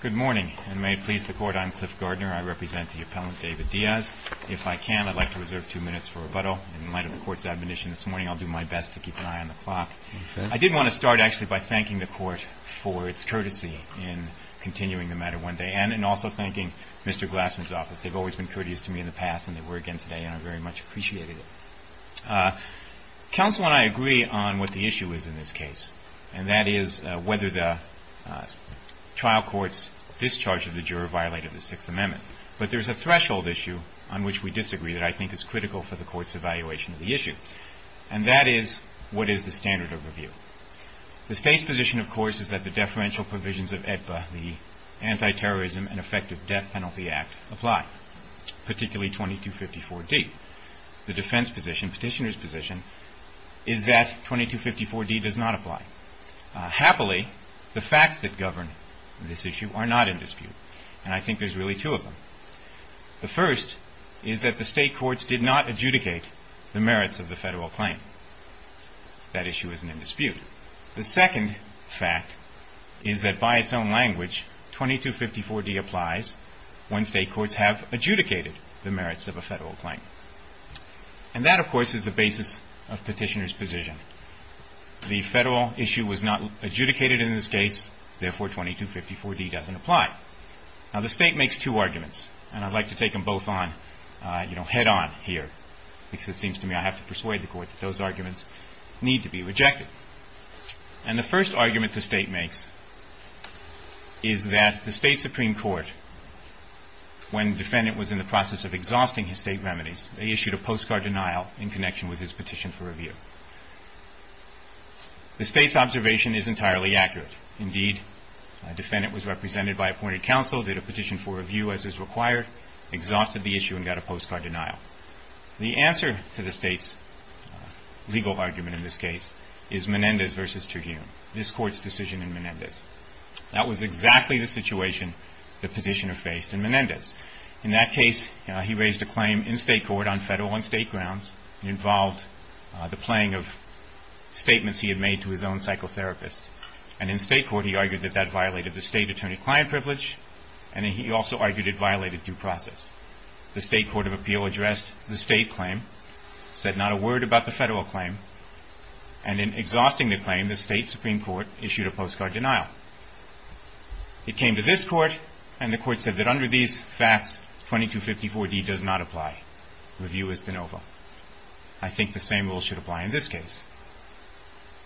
Good morning, and may it please the Court, I'm Cliff Gardner. I represent the Appellant David Diaz. If I can, I'd like to reserve two minutes for rebuttal. In light of the Court's admonition this morning, I'll do my best to keep an eye on the clock. I did want to start, actually, by thanking the Court for its courtesy in continuing the matter one day, and in also thanking Mr. Glassman's office. They've always been courteous to me in the past, and they were again today, and I very much appreciated it. Counsel and I agree on what the issue is in this case, and that is whether the trial court's discharge of the juror violated the Sixth Amendment. But there's a threshold issue on which we disagree that I think is critical for the Court's evaluation of the issue, and that is, what is the standard overview? The State's position, of course, is that the deferential provisions of AEDPA, the Anti-Terrorism and Effective Death Penalty Act, apply, particularly 2254D. The defense position, petitioner's position, is that 2254D does not apply. Happily, the facts that govern this issue are not in dispute, and I think there's really two of them. The first is that the State courts did not adjudicate the merits of the federal claim. That issue isn't in dispute. The second fact is that, by its own language, 2254D applies when State courts have adjudicated the merits of a federal claim. And that, of course, is the basis of petitioner's position. The federal issue was not adjudicated in this case, therefore 2254D doesn't apply. Now the State makes two arguments, and I'd like to take them both on head-on here, because it seems to me I have to persuade the Court that those arguments need to be rejected. And the first argument the State makes is that the State Supreme Court, when the defendant was in the process of exhausting his State remedies, they issued a postcard denial in connection with his petition for review. The State's observation is entirely accurate. Indeed, the defendant was represented by appointed counsel, did a petition for review as is required, exhausted the issue, and got a postcard denial. The answer to the State's legal argument in this case is Menendez v. Terhune, this Court's decision in Menendez. That was exactly the situation the petitioner faced in Menendez. In that case, he raised a claim in State court on federal and State grounds. It involved the playing of statements he had made to his own psychotherapist. And in State court, he argued that that violated the State attorney-client privilege, and he also argued it violated due process. The State Court of Appeal addressed the State claim, said not a word about the federal claim, and in exhausting the claim, the State Supreme Court issued a postcard denial. It came to this Court, and the Court said that under these facts, 2254d does not apply. Review is de novo. I think the same rule should apply in this case.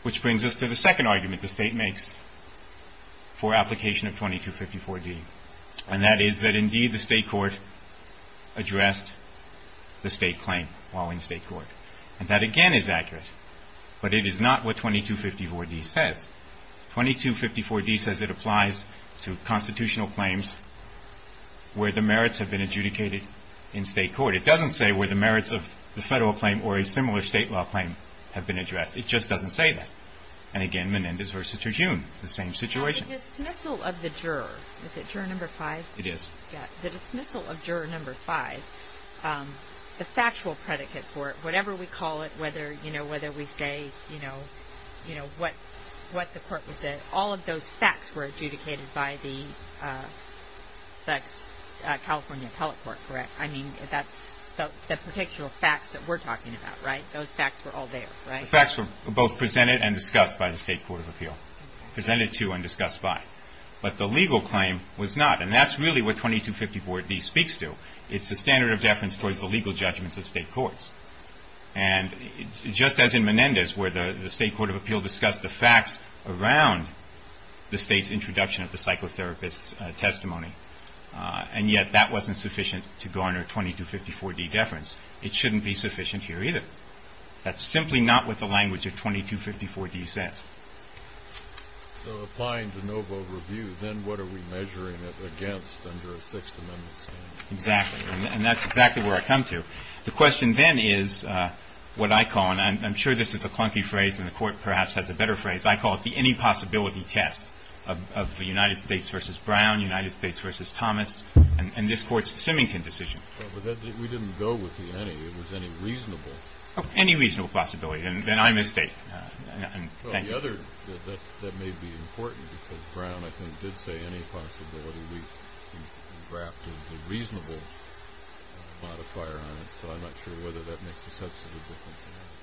Which brings us to the second argument the State makes for application of 2254d, and that is that indeed the State Court does not apply. 2254d says it applies to constitutional claims where the merits have been adjudicated in State court. It doesn't say where the merits of the federal claim or a similar State law claim have been addressed. It just doesn't say that. And again, Menendez v. Terhune, it's the same situation. Now, the dismissal of the juror, is it juror number five? It is. Yeah, the dismissal of juror number five, the factual predicate for it, whatever we say, you know, what the Court will say, all of those facts were adjudicated by the California Appellate Court, correct? I mean, that's the particular facts that we're talking about, right? Those facts were all there, right? Facts were both presented and discussed by the State Court of Appeal. Presented to and discussed by. But the legal claim was not, and that's really what 2254d speaks to. It's the standard of deference towards the legal judgments of State courts. And just as in Menendez, where the State Court of Appeal discussed the facts around the State's introduction of the psychotherapist's testimony, and yet that wasn't sufficient to garner 2254d deference, it shouldn't be sufficient here either. That's simply not what the language of 2254d says. So applying de novo review, then what are we measuring it against under a Sixth Amendment standard? Exactly. And that's exactly where I come to. The question then is what I call, and I'm sure this is a clunky phrase and the Court perhaps has a better phrase, I call it the any possibility test of the United States v. Brown, United States v. Thomas, and this Court's Symington decision. Well, but we didn't go with the any. It was any reasonable. Any reasonable possibility. Then I misstate. Well, the other that may be important, because Brown, I think, did say any possibility.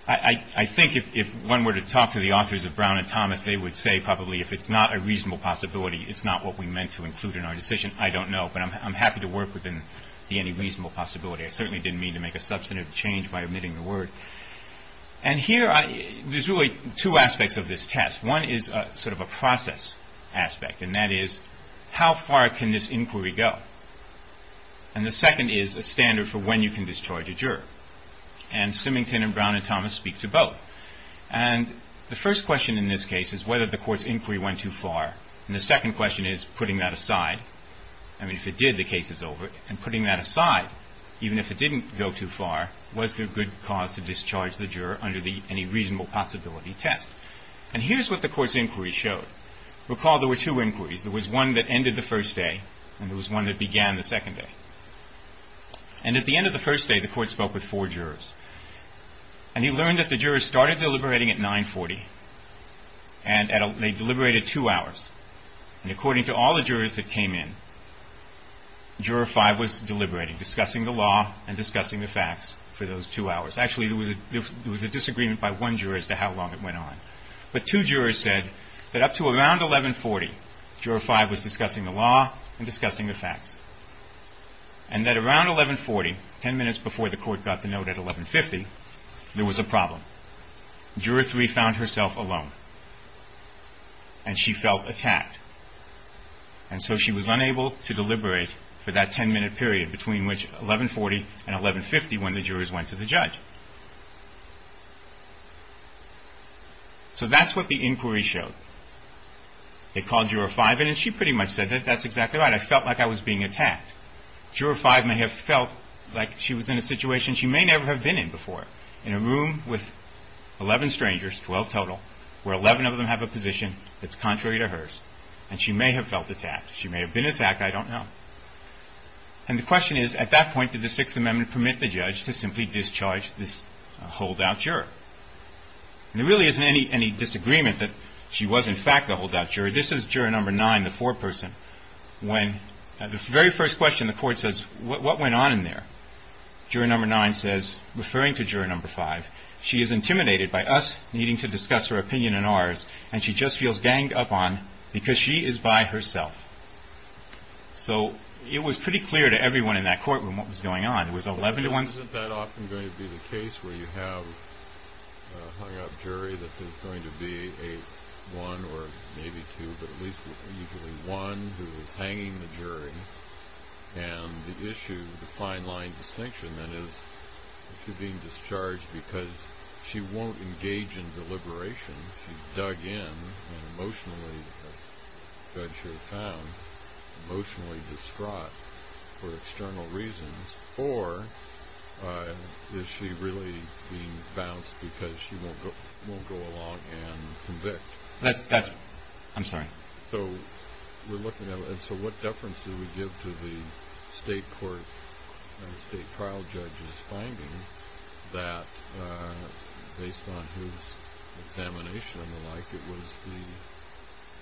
I think if one were to talk to the authors of Brown and Thomas, they would say probably if it's not a reasonable possibility, it's not what we meant to include in our decision. I don't know, but I'm happy to work within the any reasonable possibility. I certainly didn't mean to make a substantive change by omitting the word. And here, there's really two aspects of this test. One is sort of a process aspect, and that is how far can this inquiry go? And the second is a standard for when you can discharge a juror. And Symington and Brown and Thomas speak to both. And the first question in this case is whether the Court's inquiry went too far, and the second question is putting that aside. I mean, if it did, the case is over. And putting that aside, even if it didn't go too far, was there good cause to discharge the juror under the any reasonable possibility test? And here's what the Court's inquiry showed. Recall there were two inquiries. There was one that ended the first day, and there was one that began the second day. And at the end of the first day, the Court spoke with four jurors. And you learned that the jurors started deliberating at 940, and they deliberated two hours. And according to all the jurors that came in, Juror 5 was deliberating, discussing the law and discussing the facts for those two hours. Actually, there was a disagreement by one juror as to how long it went on. But two jurors said that up to around 1140, Juror 5 was discussing the law and discussing the facts. And that around 1140, ten minutes before the Court got the note at 1150, there was a problem. Juror 3 found herself alone, and she felt attacked. And so she was unable to deliberate for that ten-minute period between which 1140 and 1150, when the jurors went to the judge. So that's what the inquiry showed. They called Juror 5 in, and she pretty much said that that's exactly right. I felt like I was being attacked. Juror 5 may have felt like she was in a situation she may never have been in before, in a room with 11 strangers, 12 total, where 11 of them have a position that's contrary to hers. And she may have felt attacked. She may have been attacked. I don't know. And the question is, at that point, does the amendment permit the judge to simply discharge this holdout juror? And there really isn't any disagreement that she was, in fact, a holdout juror. This is Juror 9, the foreperson. When, at the very first question, the Court says, what went on in there? Juror 9 says, referring to Juror 5, she is intimidated by us needing to discuss her opinion and ours, and she just feels ganged up on because she is by herself. So it was pretty clear to everyone in that courtroom what was going on. It was 11 to 1. Isn't that often going to be the case where you have a hung-up jury that is going to be a 1 or maybe 2, but at least usually 1, who is hanging the jury? And the issue, the fine line distinction, then, is she's being discharged because she won't engage in deliberation. She's dug in and emotionally, as the judge here found, emotionally distraught. She's being held for external reasons. Or is she really being bounced because she won't go along and convict? I'm sorry. So we're looking at it. So what deference do we give to the state court, state trial judge's finding that, based on his examination and the like, it was the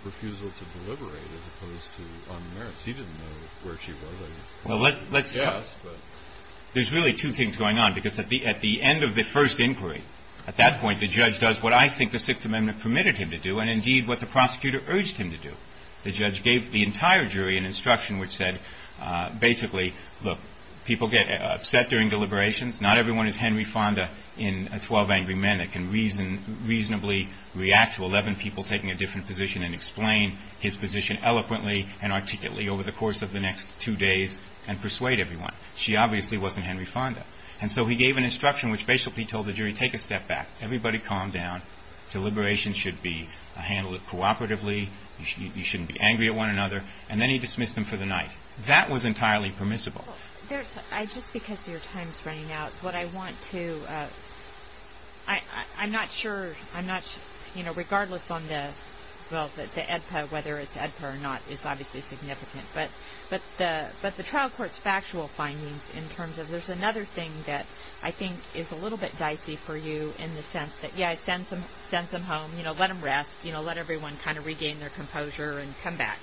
refusal to deliberate as opposed to unmerits? He didn't know where she was. There's really two things going on, because at the end of the first inquiry, at that point, the judge does what I think the Sixth Amendment permitted him to do and, indeed, what the prosecutor urged him to do. The judge gave the entire jury an instruction which said, basically, look, people get upset during deliberations. Not everyone is Henry Fonda in 12 Angry Men that can reasonably react to 11 people taking a different position and explain his position eloquently and articulately over the course of the next two days and persuade everyone. She obviously wasn't Henry Fonda. And so he gave an instruction which basically told the jury, take a step back. Everybody calm down. Deliberations should be handled cooperatively. You shouldn't be angry at one another. And then he dismissed them for the night. That was entirely permissible. Just because your time is running out, what I want to, I'm not sure, I'm not, you know, regardless on the, well, the AEDPA, whether it's AEDPA or not, is obviously significant, but the trial court's factual findings in terms of, there's another thing that I think is a little bit dicey for you in the sense that, yeah, send some home, you know, let them rest, you know, let everyone kind of regain their composure and come back.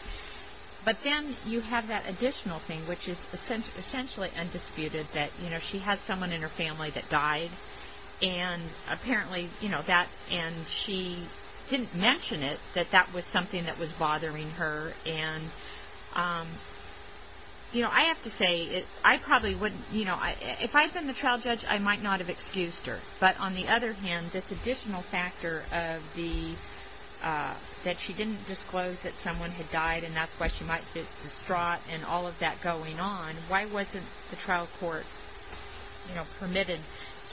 But then you have that additional thing which is essentially undisputed that, you know, she had someone in her family that died and apparently, you know, that, and she didn't mention it, that that was something that was bothering her. And, you know, I have to say I probably wouldn't, you know, if I had been the trial judge, I might not have excused her. But on the other hand, this additional factor of the, that she didn't disclose that someone had died and that's why she might get distraught and all of that going on, why wasn't the trial court, you know, permitted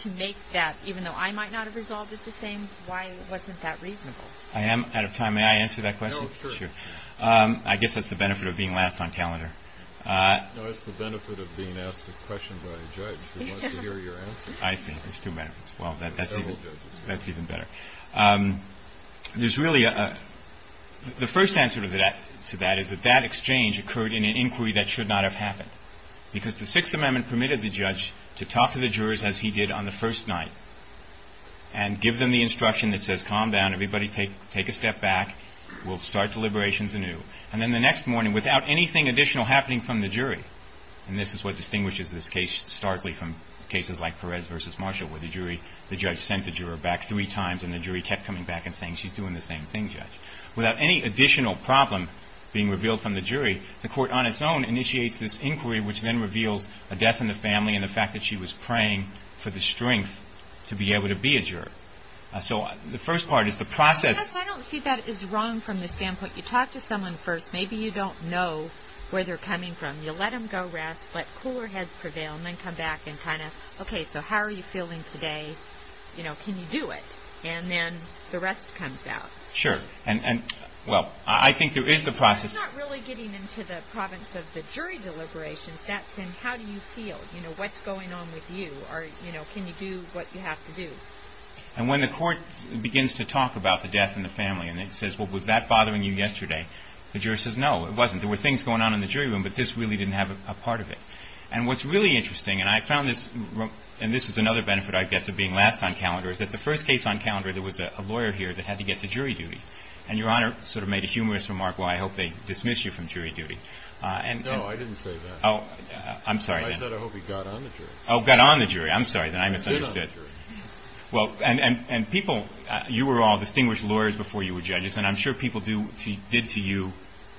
to make that, even though I might not have resolved it the same, why wasn't that reasonable? I am out of time. May I answer that question? No, sure. Sure. I guess that's the benefit of being last on calendar. No, it's the benefit of being asked a question by a judge who wants to hear your answer. I see. There's two benefits. Well, that's even, that's even better. There's really a, the first answer to that is that that exchange occurred in an inquiry that should not have happened because the Sixth Amendment permitted the judge to talk to the jurors as he did on the first night and give them the instruction that says, calm down, everybody take, take a step back, we'll start deliberations anew. And then the next morning, without anything additional happening from the jury, and this is what distinguishes this case starkly from cases like Perez v. Marshall where the jury, the judge sent the statement and the jury kept coming back and saying she's doing the same thing, judge. Without any additional problem being revealed from the jury, the court on its own initiates this inquiry which then reveals a death in the family and the fact that she was praying for the strength to be able to be a juror. So the first part is the process. I don't see that as wrong from the standpoint, you talk to someone first, maybe you don't know where they're coming from. You let them go rest, let cooler heads prevail, and then you come back and kind of, okay, so how are you feeling today? You know, can you do it? And then the rest comes down. Sure. And, well, I think there is the process. It's not really getting into the province of the jury deliberations, that's in how do you feel? You know, what's going on with you? Or, you know, can you do what you have to do? And when the court begins to talk about the death in the family and it says, well, was that bothering you yesterday? The juror says, no, it wasn't. There were things going on in the jury room, but this really didn't have a part of it. And what's really interesting, and I found this, and this is another benefit, I guess, of being last on calendar, is that the first case on calendar, there was a lawyer here that had to get to jury duty. And Your Honor sort of made a humorous remark, well, I hope they dismiss you from jury duty. No, I didn't say that. Oh, I'm sorry. I said I hope he got on the jury. Oh, got on the jury. I'm sorry, then I misunderstood. I did on the jury. Well, and people, you were all distinguished lawyers before you were judges, and I'm sure people did to you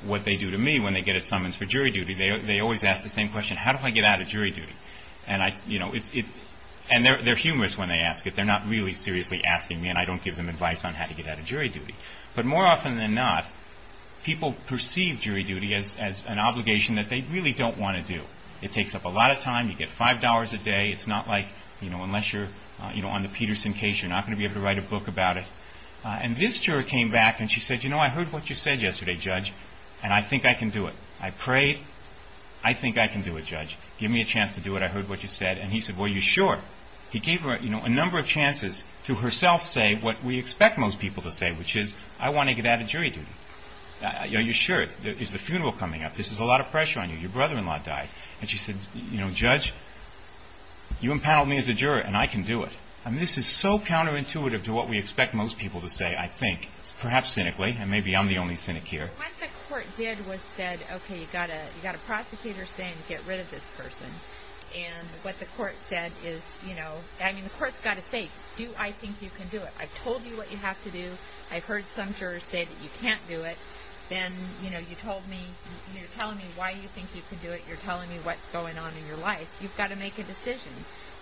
what they do to me when they get a summons for jury duty. They always ask the same question, how do I get out of jury duty? And they're humorous when they ask it. They're not really seriously asking me, and I don't give them advice on how to get out of jury duty. But more often than not, people perceive jury duty as an obligation that they really don't want to do. It takes up a lot of time. You get $5 a day. It's not like, unless you're on the Peterson case, you're not going to be able to write a book about it. And this juror came back, and she said, you know, I heard what you said yesterday, judge, and I think I can do it. I prayed. I think I can do it, judge. Give me a chance to do it. I heard what you said. And he said, well, you're sure? He gave her a number of chances to herself say what we expect most people to say, which is, I want to get out of jury duty. Are you sure? Is the funeral coming up? This is a lot of pressure on you. Your brother-in-law died. And she said, you know, judge, you impaneled me as a juror, and I can do it. And this is so counterintuitive to what we expect most people to say, I think, perhaps cynically, and maybe I'm the only cynic here. What the court did was said, okay, you've got a prosecutor saying, get rid of this person. And what the court said is, you know, I mean, the court's got to say, do I think you can do it? I've told you what you have to do. I've heard some jurors say that you can't do it. Then, you know, you told me, you're telling me why you think you can do it. You're telling me what's going on in your life. You've got to make a decision.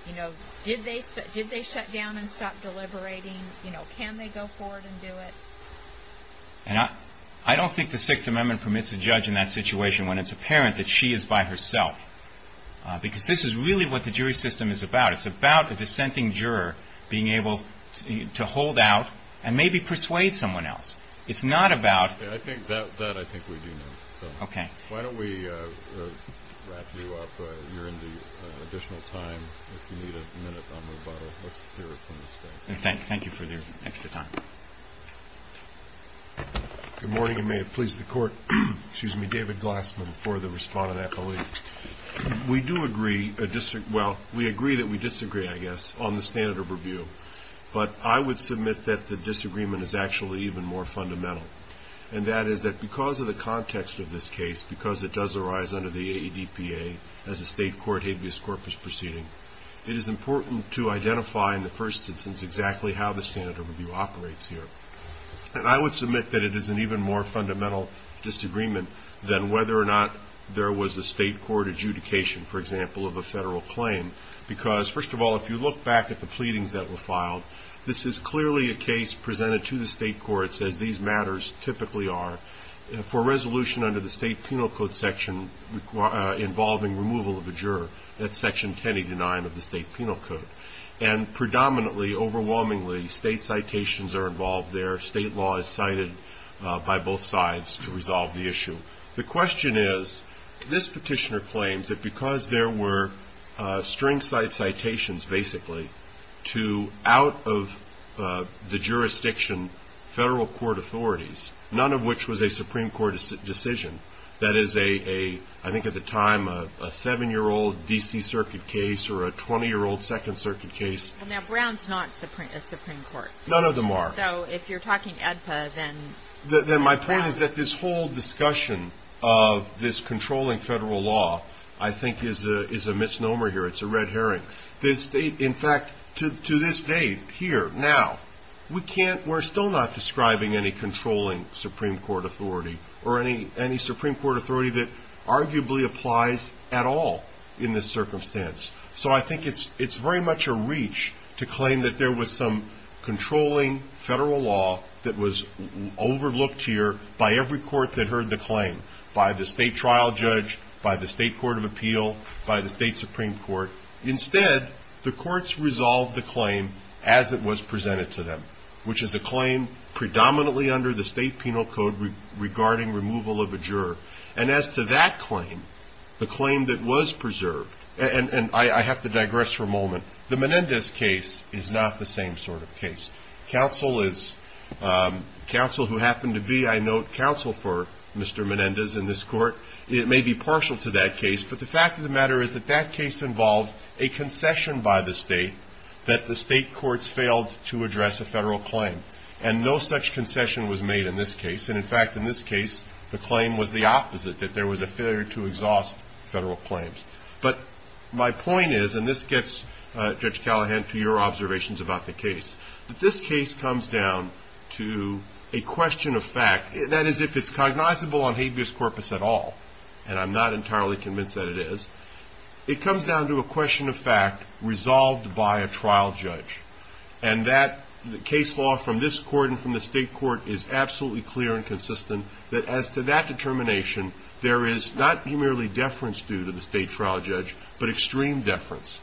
You know, did they shut down and stop deliberating? You know, can they go forward and do it? And I don't think the Sixth Amendment permits a judge in that situation when it's apparent that she is by herself. Because this is really what the jury system is about. It's about a dissenting juror being able to hold out and maybe persuade someone else. It's not about... Yeah, I think that I think we do know. Okay. Why don't we wrap you up? You're into additional time. If you need a minute, I'll move on. Let's hear it from the State. And thank you for your extra time. Good morning, and may it please the Court. Excuse me, David Glassman for the respondent affiliate. We do agree, well, we agree that we disagree, I guess, on the standard of review. But I would submit that the disagreement is actually even more fundamental. And that is that because of the context of this case, because it does arise under the AEDPA as a state court habeas corpus proceeding, it is important to identify in the first instance exactly how the standard of review operates here. And I would submit that it is an even more fundamental disagreement than whether or not there was a state court adjudication, for example, of a federal claim. Because, first of all, if you look back at the pleadings that were filed, this is clearly a case presented to the state courts, as these matters typically are, for resolution under the State Penal Code section involving removal of a juror. That's Section 1089 of the State Penal Code. And predominantly, overwhelmingly, state citations are involved there. State law is cited by both sides to resolve the issue. The question is, this petitioner claims that because there were string cite citations, basically, to, out of the jurisdiction, federal court authorities, none of which was a Supreme Court decision. That is a, I think at the time, a seven-year-old D.C. Circuit case or a 20-year-old Second Circuit case. Well, now, Brown's not a Supreme Court. None of them are. So if you're talking AEDPA, then... Then my point is that this whole discussion of this controlling federal law, I think, is a in fact, to this day, here, now, we can't, we're still not describing any controlling Supreme Court authority or any Supreme Court authority that arguably applies at all in this circumstance. So I think it's very much a reach to claim that there was some controlling federal law that was overlooked here by every court that heard the claim, by the state trial judge, by the state court of The courts resolved the claim as it was presented to them, which is a claim predominantly under the state penal code regarding removal of a juror. And as to that claim, the claim that was preserved, and I have to digress for a moment. The Menendez case is not the same sort of case. Counsel is, counsel who happened to be, I note, counsel for Mr. Menendez in this court. It may be partial to that case, but the fact of the matter is that that case involved a concession by the state that the state courts failed to address a federal claim. And no such concession was made in this case. And in fact, in this case, the claim was the opposite, that there was a failure to exhaust federal claims. But my point is, and this gets Judge Callahan to your observations about the case, that this case comes down to a question of fact. That is, if it's cognizable on habeas corpus at all, and I'm not entirely convinced that it is, it comes down to a question of fact resolved by a trial judge. And that case law from this court and from the state court is absolutely clear and consistent that as to that determination, there is not merely deference due to the state trial judge, but extreme deference.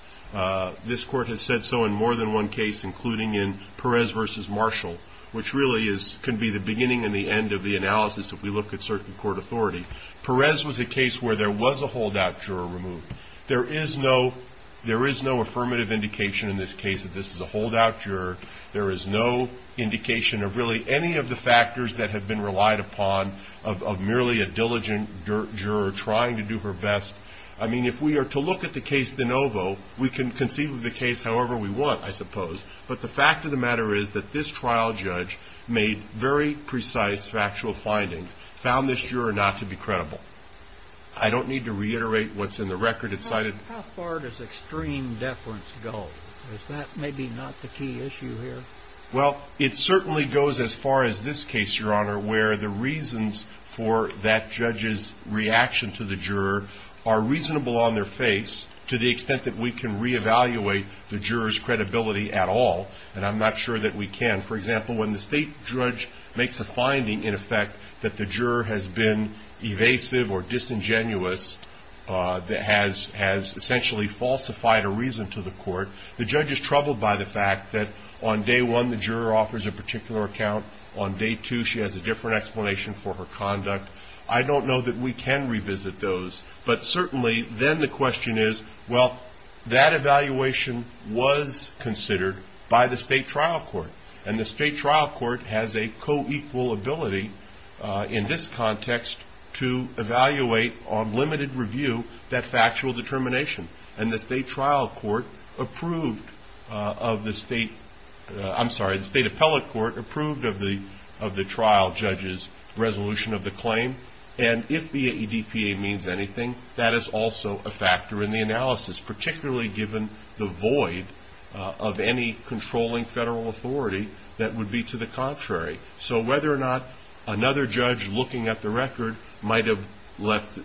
This court has said so in more than one case, including in Perez v. Marshall, which really can be the beginning and the end of the analysis if we look at certain court authority. Perez was a case where there was a holdout juror removed. There is no affirmative indication in this case that this is a holdout juror. There is no indication of really any of the factors that have been relied upon of merely a diligent juror trying to do her best. I mean, if we are to look at the case de novo, we can conceive of the case however we want, I suppose. But the fact of the matter is that this trial judge made very precise factual findings, found this juror not to be credible. I don't need to reiterate what's in the record. It's cited. How far does extreme deference go? Is that maybe not the key issue here? Well, it certainly goes as far as this case, Your Honor, where the reasons for that judge's reaction to the juror are reasonable on their face to the extent that we can reevaluate the juror's credibility at all. And I'm not sure that we can. For example, when the state judge makes a finding, in effect, that the juror has been evasive or disingenuous, has essentially falsified a reason to the court, the judge is troubled by the fact that on day one the juror offers a particular account. On day two she has a different explanation for her conduct. I don't know that we can revisit those. But certainly then the question is, well, that evaluation was considered by the state trial court. And the state trial court has a co-equal ability in this context to evaluate on limited review that factual determination. And the state trial court approved of the state, I'm sorry, the state appellate court approved of the trial judge's resolution of the claim. And if the AEDPA means anything, that is also a factor in the analysis, particularly given the void of any controlling federal authority that would be to the contrary. So whether or not another judge looking at the record might have left,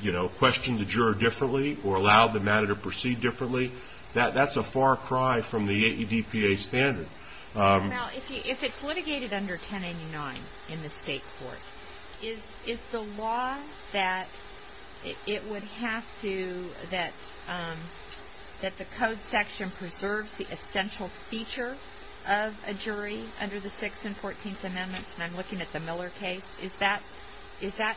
you know, questioned the juror differently or allowed the matter to proceed differently, that's a far cry from the AEDPA standard. Now, if it's litigated under 1089 in the state court, is the law that it would have to, that the code section preserves the essential feature of a jury under the Sixth and Fourteenth Amendments, and I'm looking at the Miller case, is that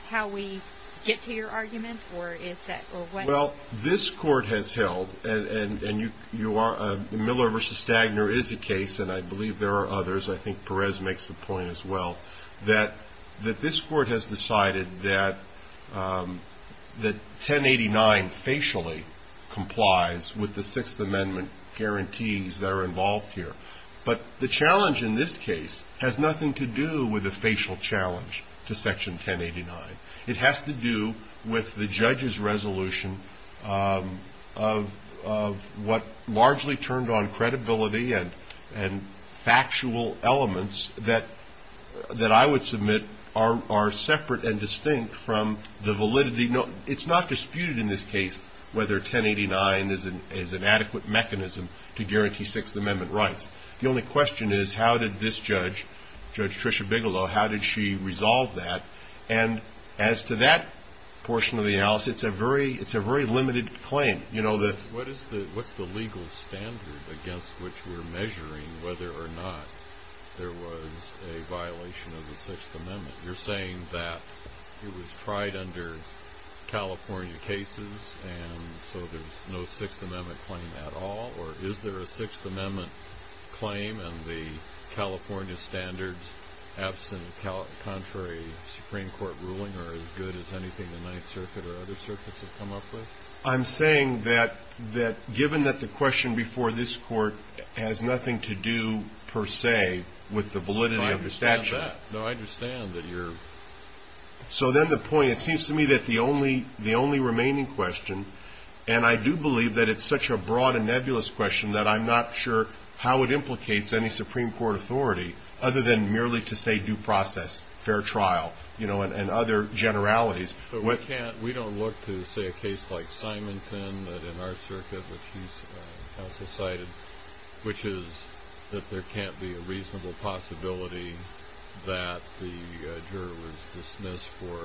how we get to your argument? Well, this court has held, and Miller v. Stagner is a case, and I believe there are others, I think Perez makes the point as well, that this court has decided that 1089 facially complies with the Sixth Amendment guarantees that are involved here. But the challenge in this case has nothing to do with the facial challenge to Section 1089. It has to do with the judge's resolution of what largely turned on credibility and factual elements that I would submit are separate and distinct from the validity. It's not disputed in this case whether 1089 is an adequate mechanism to guarantee Sixth Amendment rights. The only question is how did this judge, Judge Tricia Bigelow, how did she resolve that? And as to that portion of the analysis, it's a very limited claim. What's the legal standard against which we're measuring whether or not there was a violation of the Sixth Amendment? You're saying that it was tried under California cases, and so there's no Sixth Amendment claim at all? Or is there a Sixth Amendment claim in the California standards absent of contrary Supreme Court ruling or as good as anything the Ninth Circuit or other circuits have come up with? I'm saying that given that the question before this court has nothing to do per se with the validity of the statute. I understand that. No, I understand that you're... So then the point, it seems to me that the only remaining question, and I do believe that it's such a broad and nebulous question that I'm not sure how it implicates any Supreme Court authority other than merely to say due process, fair trial, you know, and other generalities. We don't look to, say, a case like Simonton that in our circuit, which you also cited, which is that there can't be a reasonable possibility that the juror was dismissed for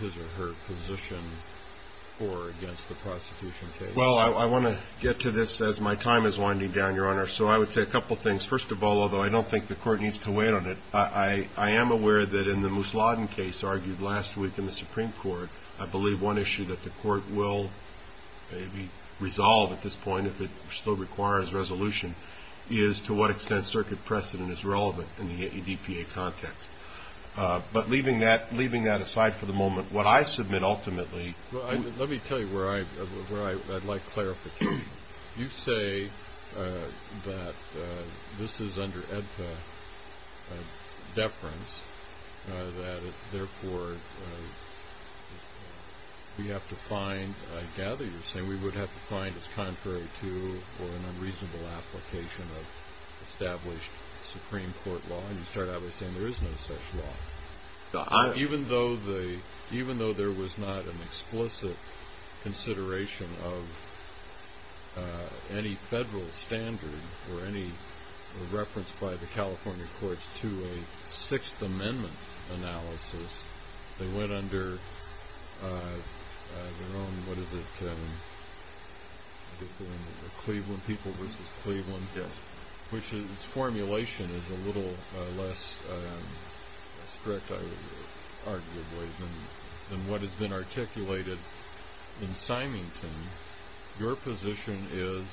his or her position for or against the prosecution case. Well, I want to get to this as my time is winding down, Your Honor. So I would say a couple things. First of all, although I don't think the court needs to wait on it, I am aware that in the Mousladen case argued last week in the Supreme Court, I believe one issue that the court will maybe resolve at this point, if it still requires resolution, is to what extent circuit precedent is relevant in the ADPA context. But leaving that aside for the moment, what I submit ultimately... Well, let me tell you where I'd like clarification. You say that this is under ADPA deference, that therefore we have to find, I gather you're saying we would have to find it's contrary to or an unreasonable application of established Supreme Court law. And you start out by saying there is no such law. Even though there was not an explicit consideration of any federal standard or any reference by the California courts to a Sixth Amendment analysis, they went under their own, what is it, Cleveland People v. Cleveland, which its formulation is a little less strict, arguably, than what has been articulated in Symington. Your position is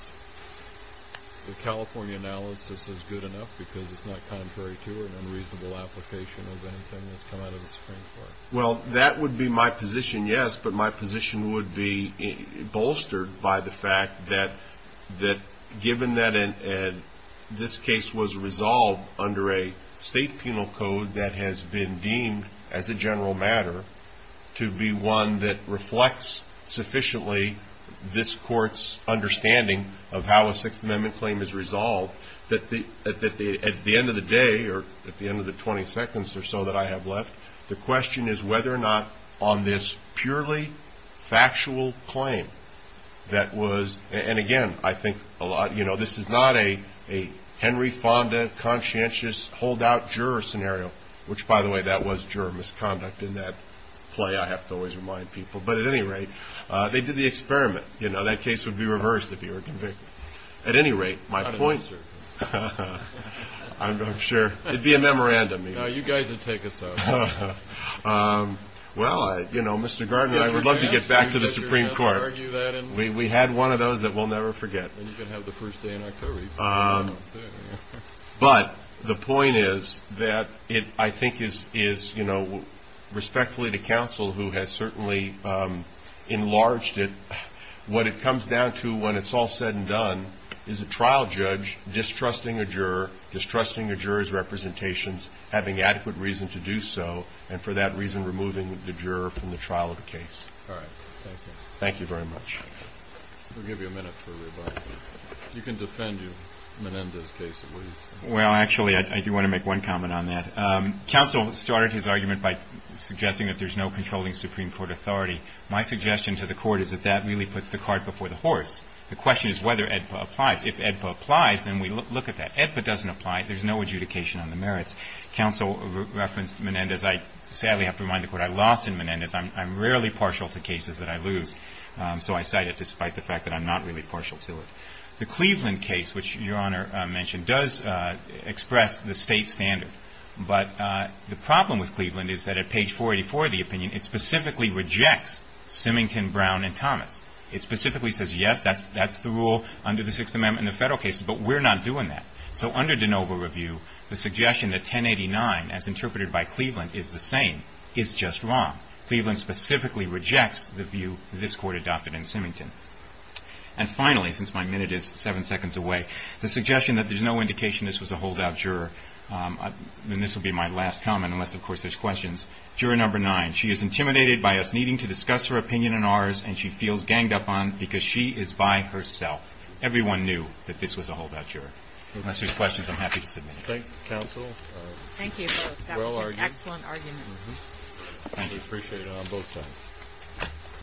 the California analysis is good enough because it's not contrary to or an unreasonable application of anything that's come out of the Supreme Court. Well, that would be my position, yes, but my position would be bolstered by the fact that given that this case was resolved under a state penal code that has been deemed, as a general matter, to be one that reflects sufficiently this court's understanding of how a Sixth Amendment claim is resolved, that at the end of the day or at the end of the 20 seconds or so that I have left, the question is whether or not on this purely factual claim that was, and again, I think a lot, you know, this is not a Henry Fonda conscientious holdout juror scenario, which, by the way, that was juror misconduct in that play I have to always remind people. But at any rate, they did the experiment. You know, that case would be reversed if he were convicted. At any rate, my point, I'm sure it would be a memorandum. No, you guys would take us out. Well, you know, Mr. Gardner, I would love to get back to the Supreme Court. We had one of those that we'll never forget. Then you can have the first day in October. But the point is that it, I think, is, you know, respectfully to counsel who has certainly enlarged it, what it comes down to when it's all said and done is a trial judge distrusting a juror, distrusting a juror's representations, having adequate reason to do so, and for that reason removing the juror from the trial of the case. All right. Thank you. Thank you very much. We'll give you a minute for rebuttal. You can defend Menendez's case, at least. Well, actually, I do want to make one comment on that. Counsel started his argument by suggesting that there's no controlling Supreme Court authority. My suggestion to the Court is that that really puts the cart before the horse. The question is whether AEDPA applies. If AEDPA applies, then we look at that. AEDPA doesn't apply. There's no adjudication on the merits. Counsel referenced Menendez. I sadly have to remind the Court I lost in Menendez. I'm rarely partial to cases that I lose, so I cite it despite the fact that I'm not really partial to it. The Cleveland case, which Your Honor mentioned, does express the state standard. But the problem with Cleveland is that at page 484 of the opinion, it specifically rejects Simington, Brown, and Thomas. It specifically says, yes, that's the rule under the Sixth Amendment in the federal cases, but we're not doing that. So under de novo review, the suggestion that 1089, as interpreted by Cleveland, is the same is just wrong. Cleveland specifically rejects the view this Court adopted in Simington. And finally, since my minute is seven seconds away, the suggestion that there's no indication this was a holdout juror, and this will be my last comment unless, of course, there's questions. Juror number nine, she is intimidated by us needing to discuss her opinion in ours, and she feels ganged up on because she is by herself. Everyone knew that this was a holdout juror. Unless there's questions, I'm happy to submit it. Thank you, counsel. Thank you both. That was an excellent argument. Thank you. Appreciate it on both sides.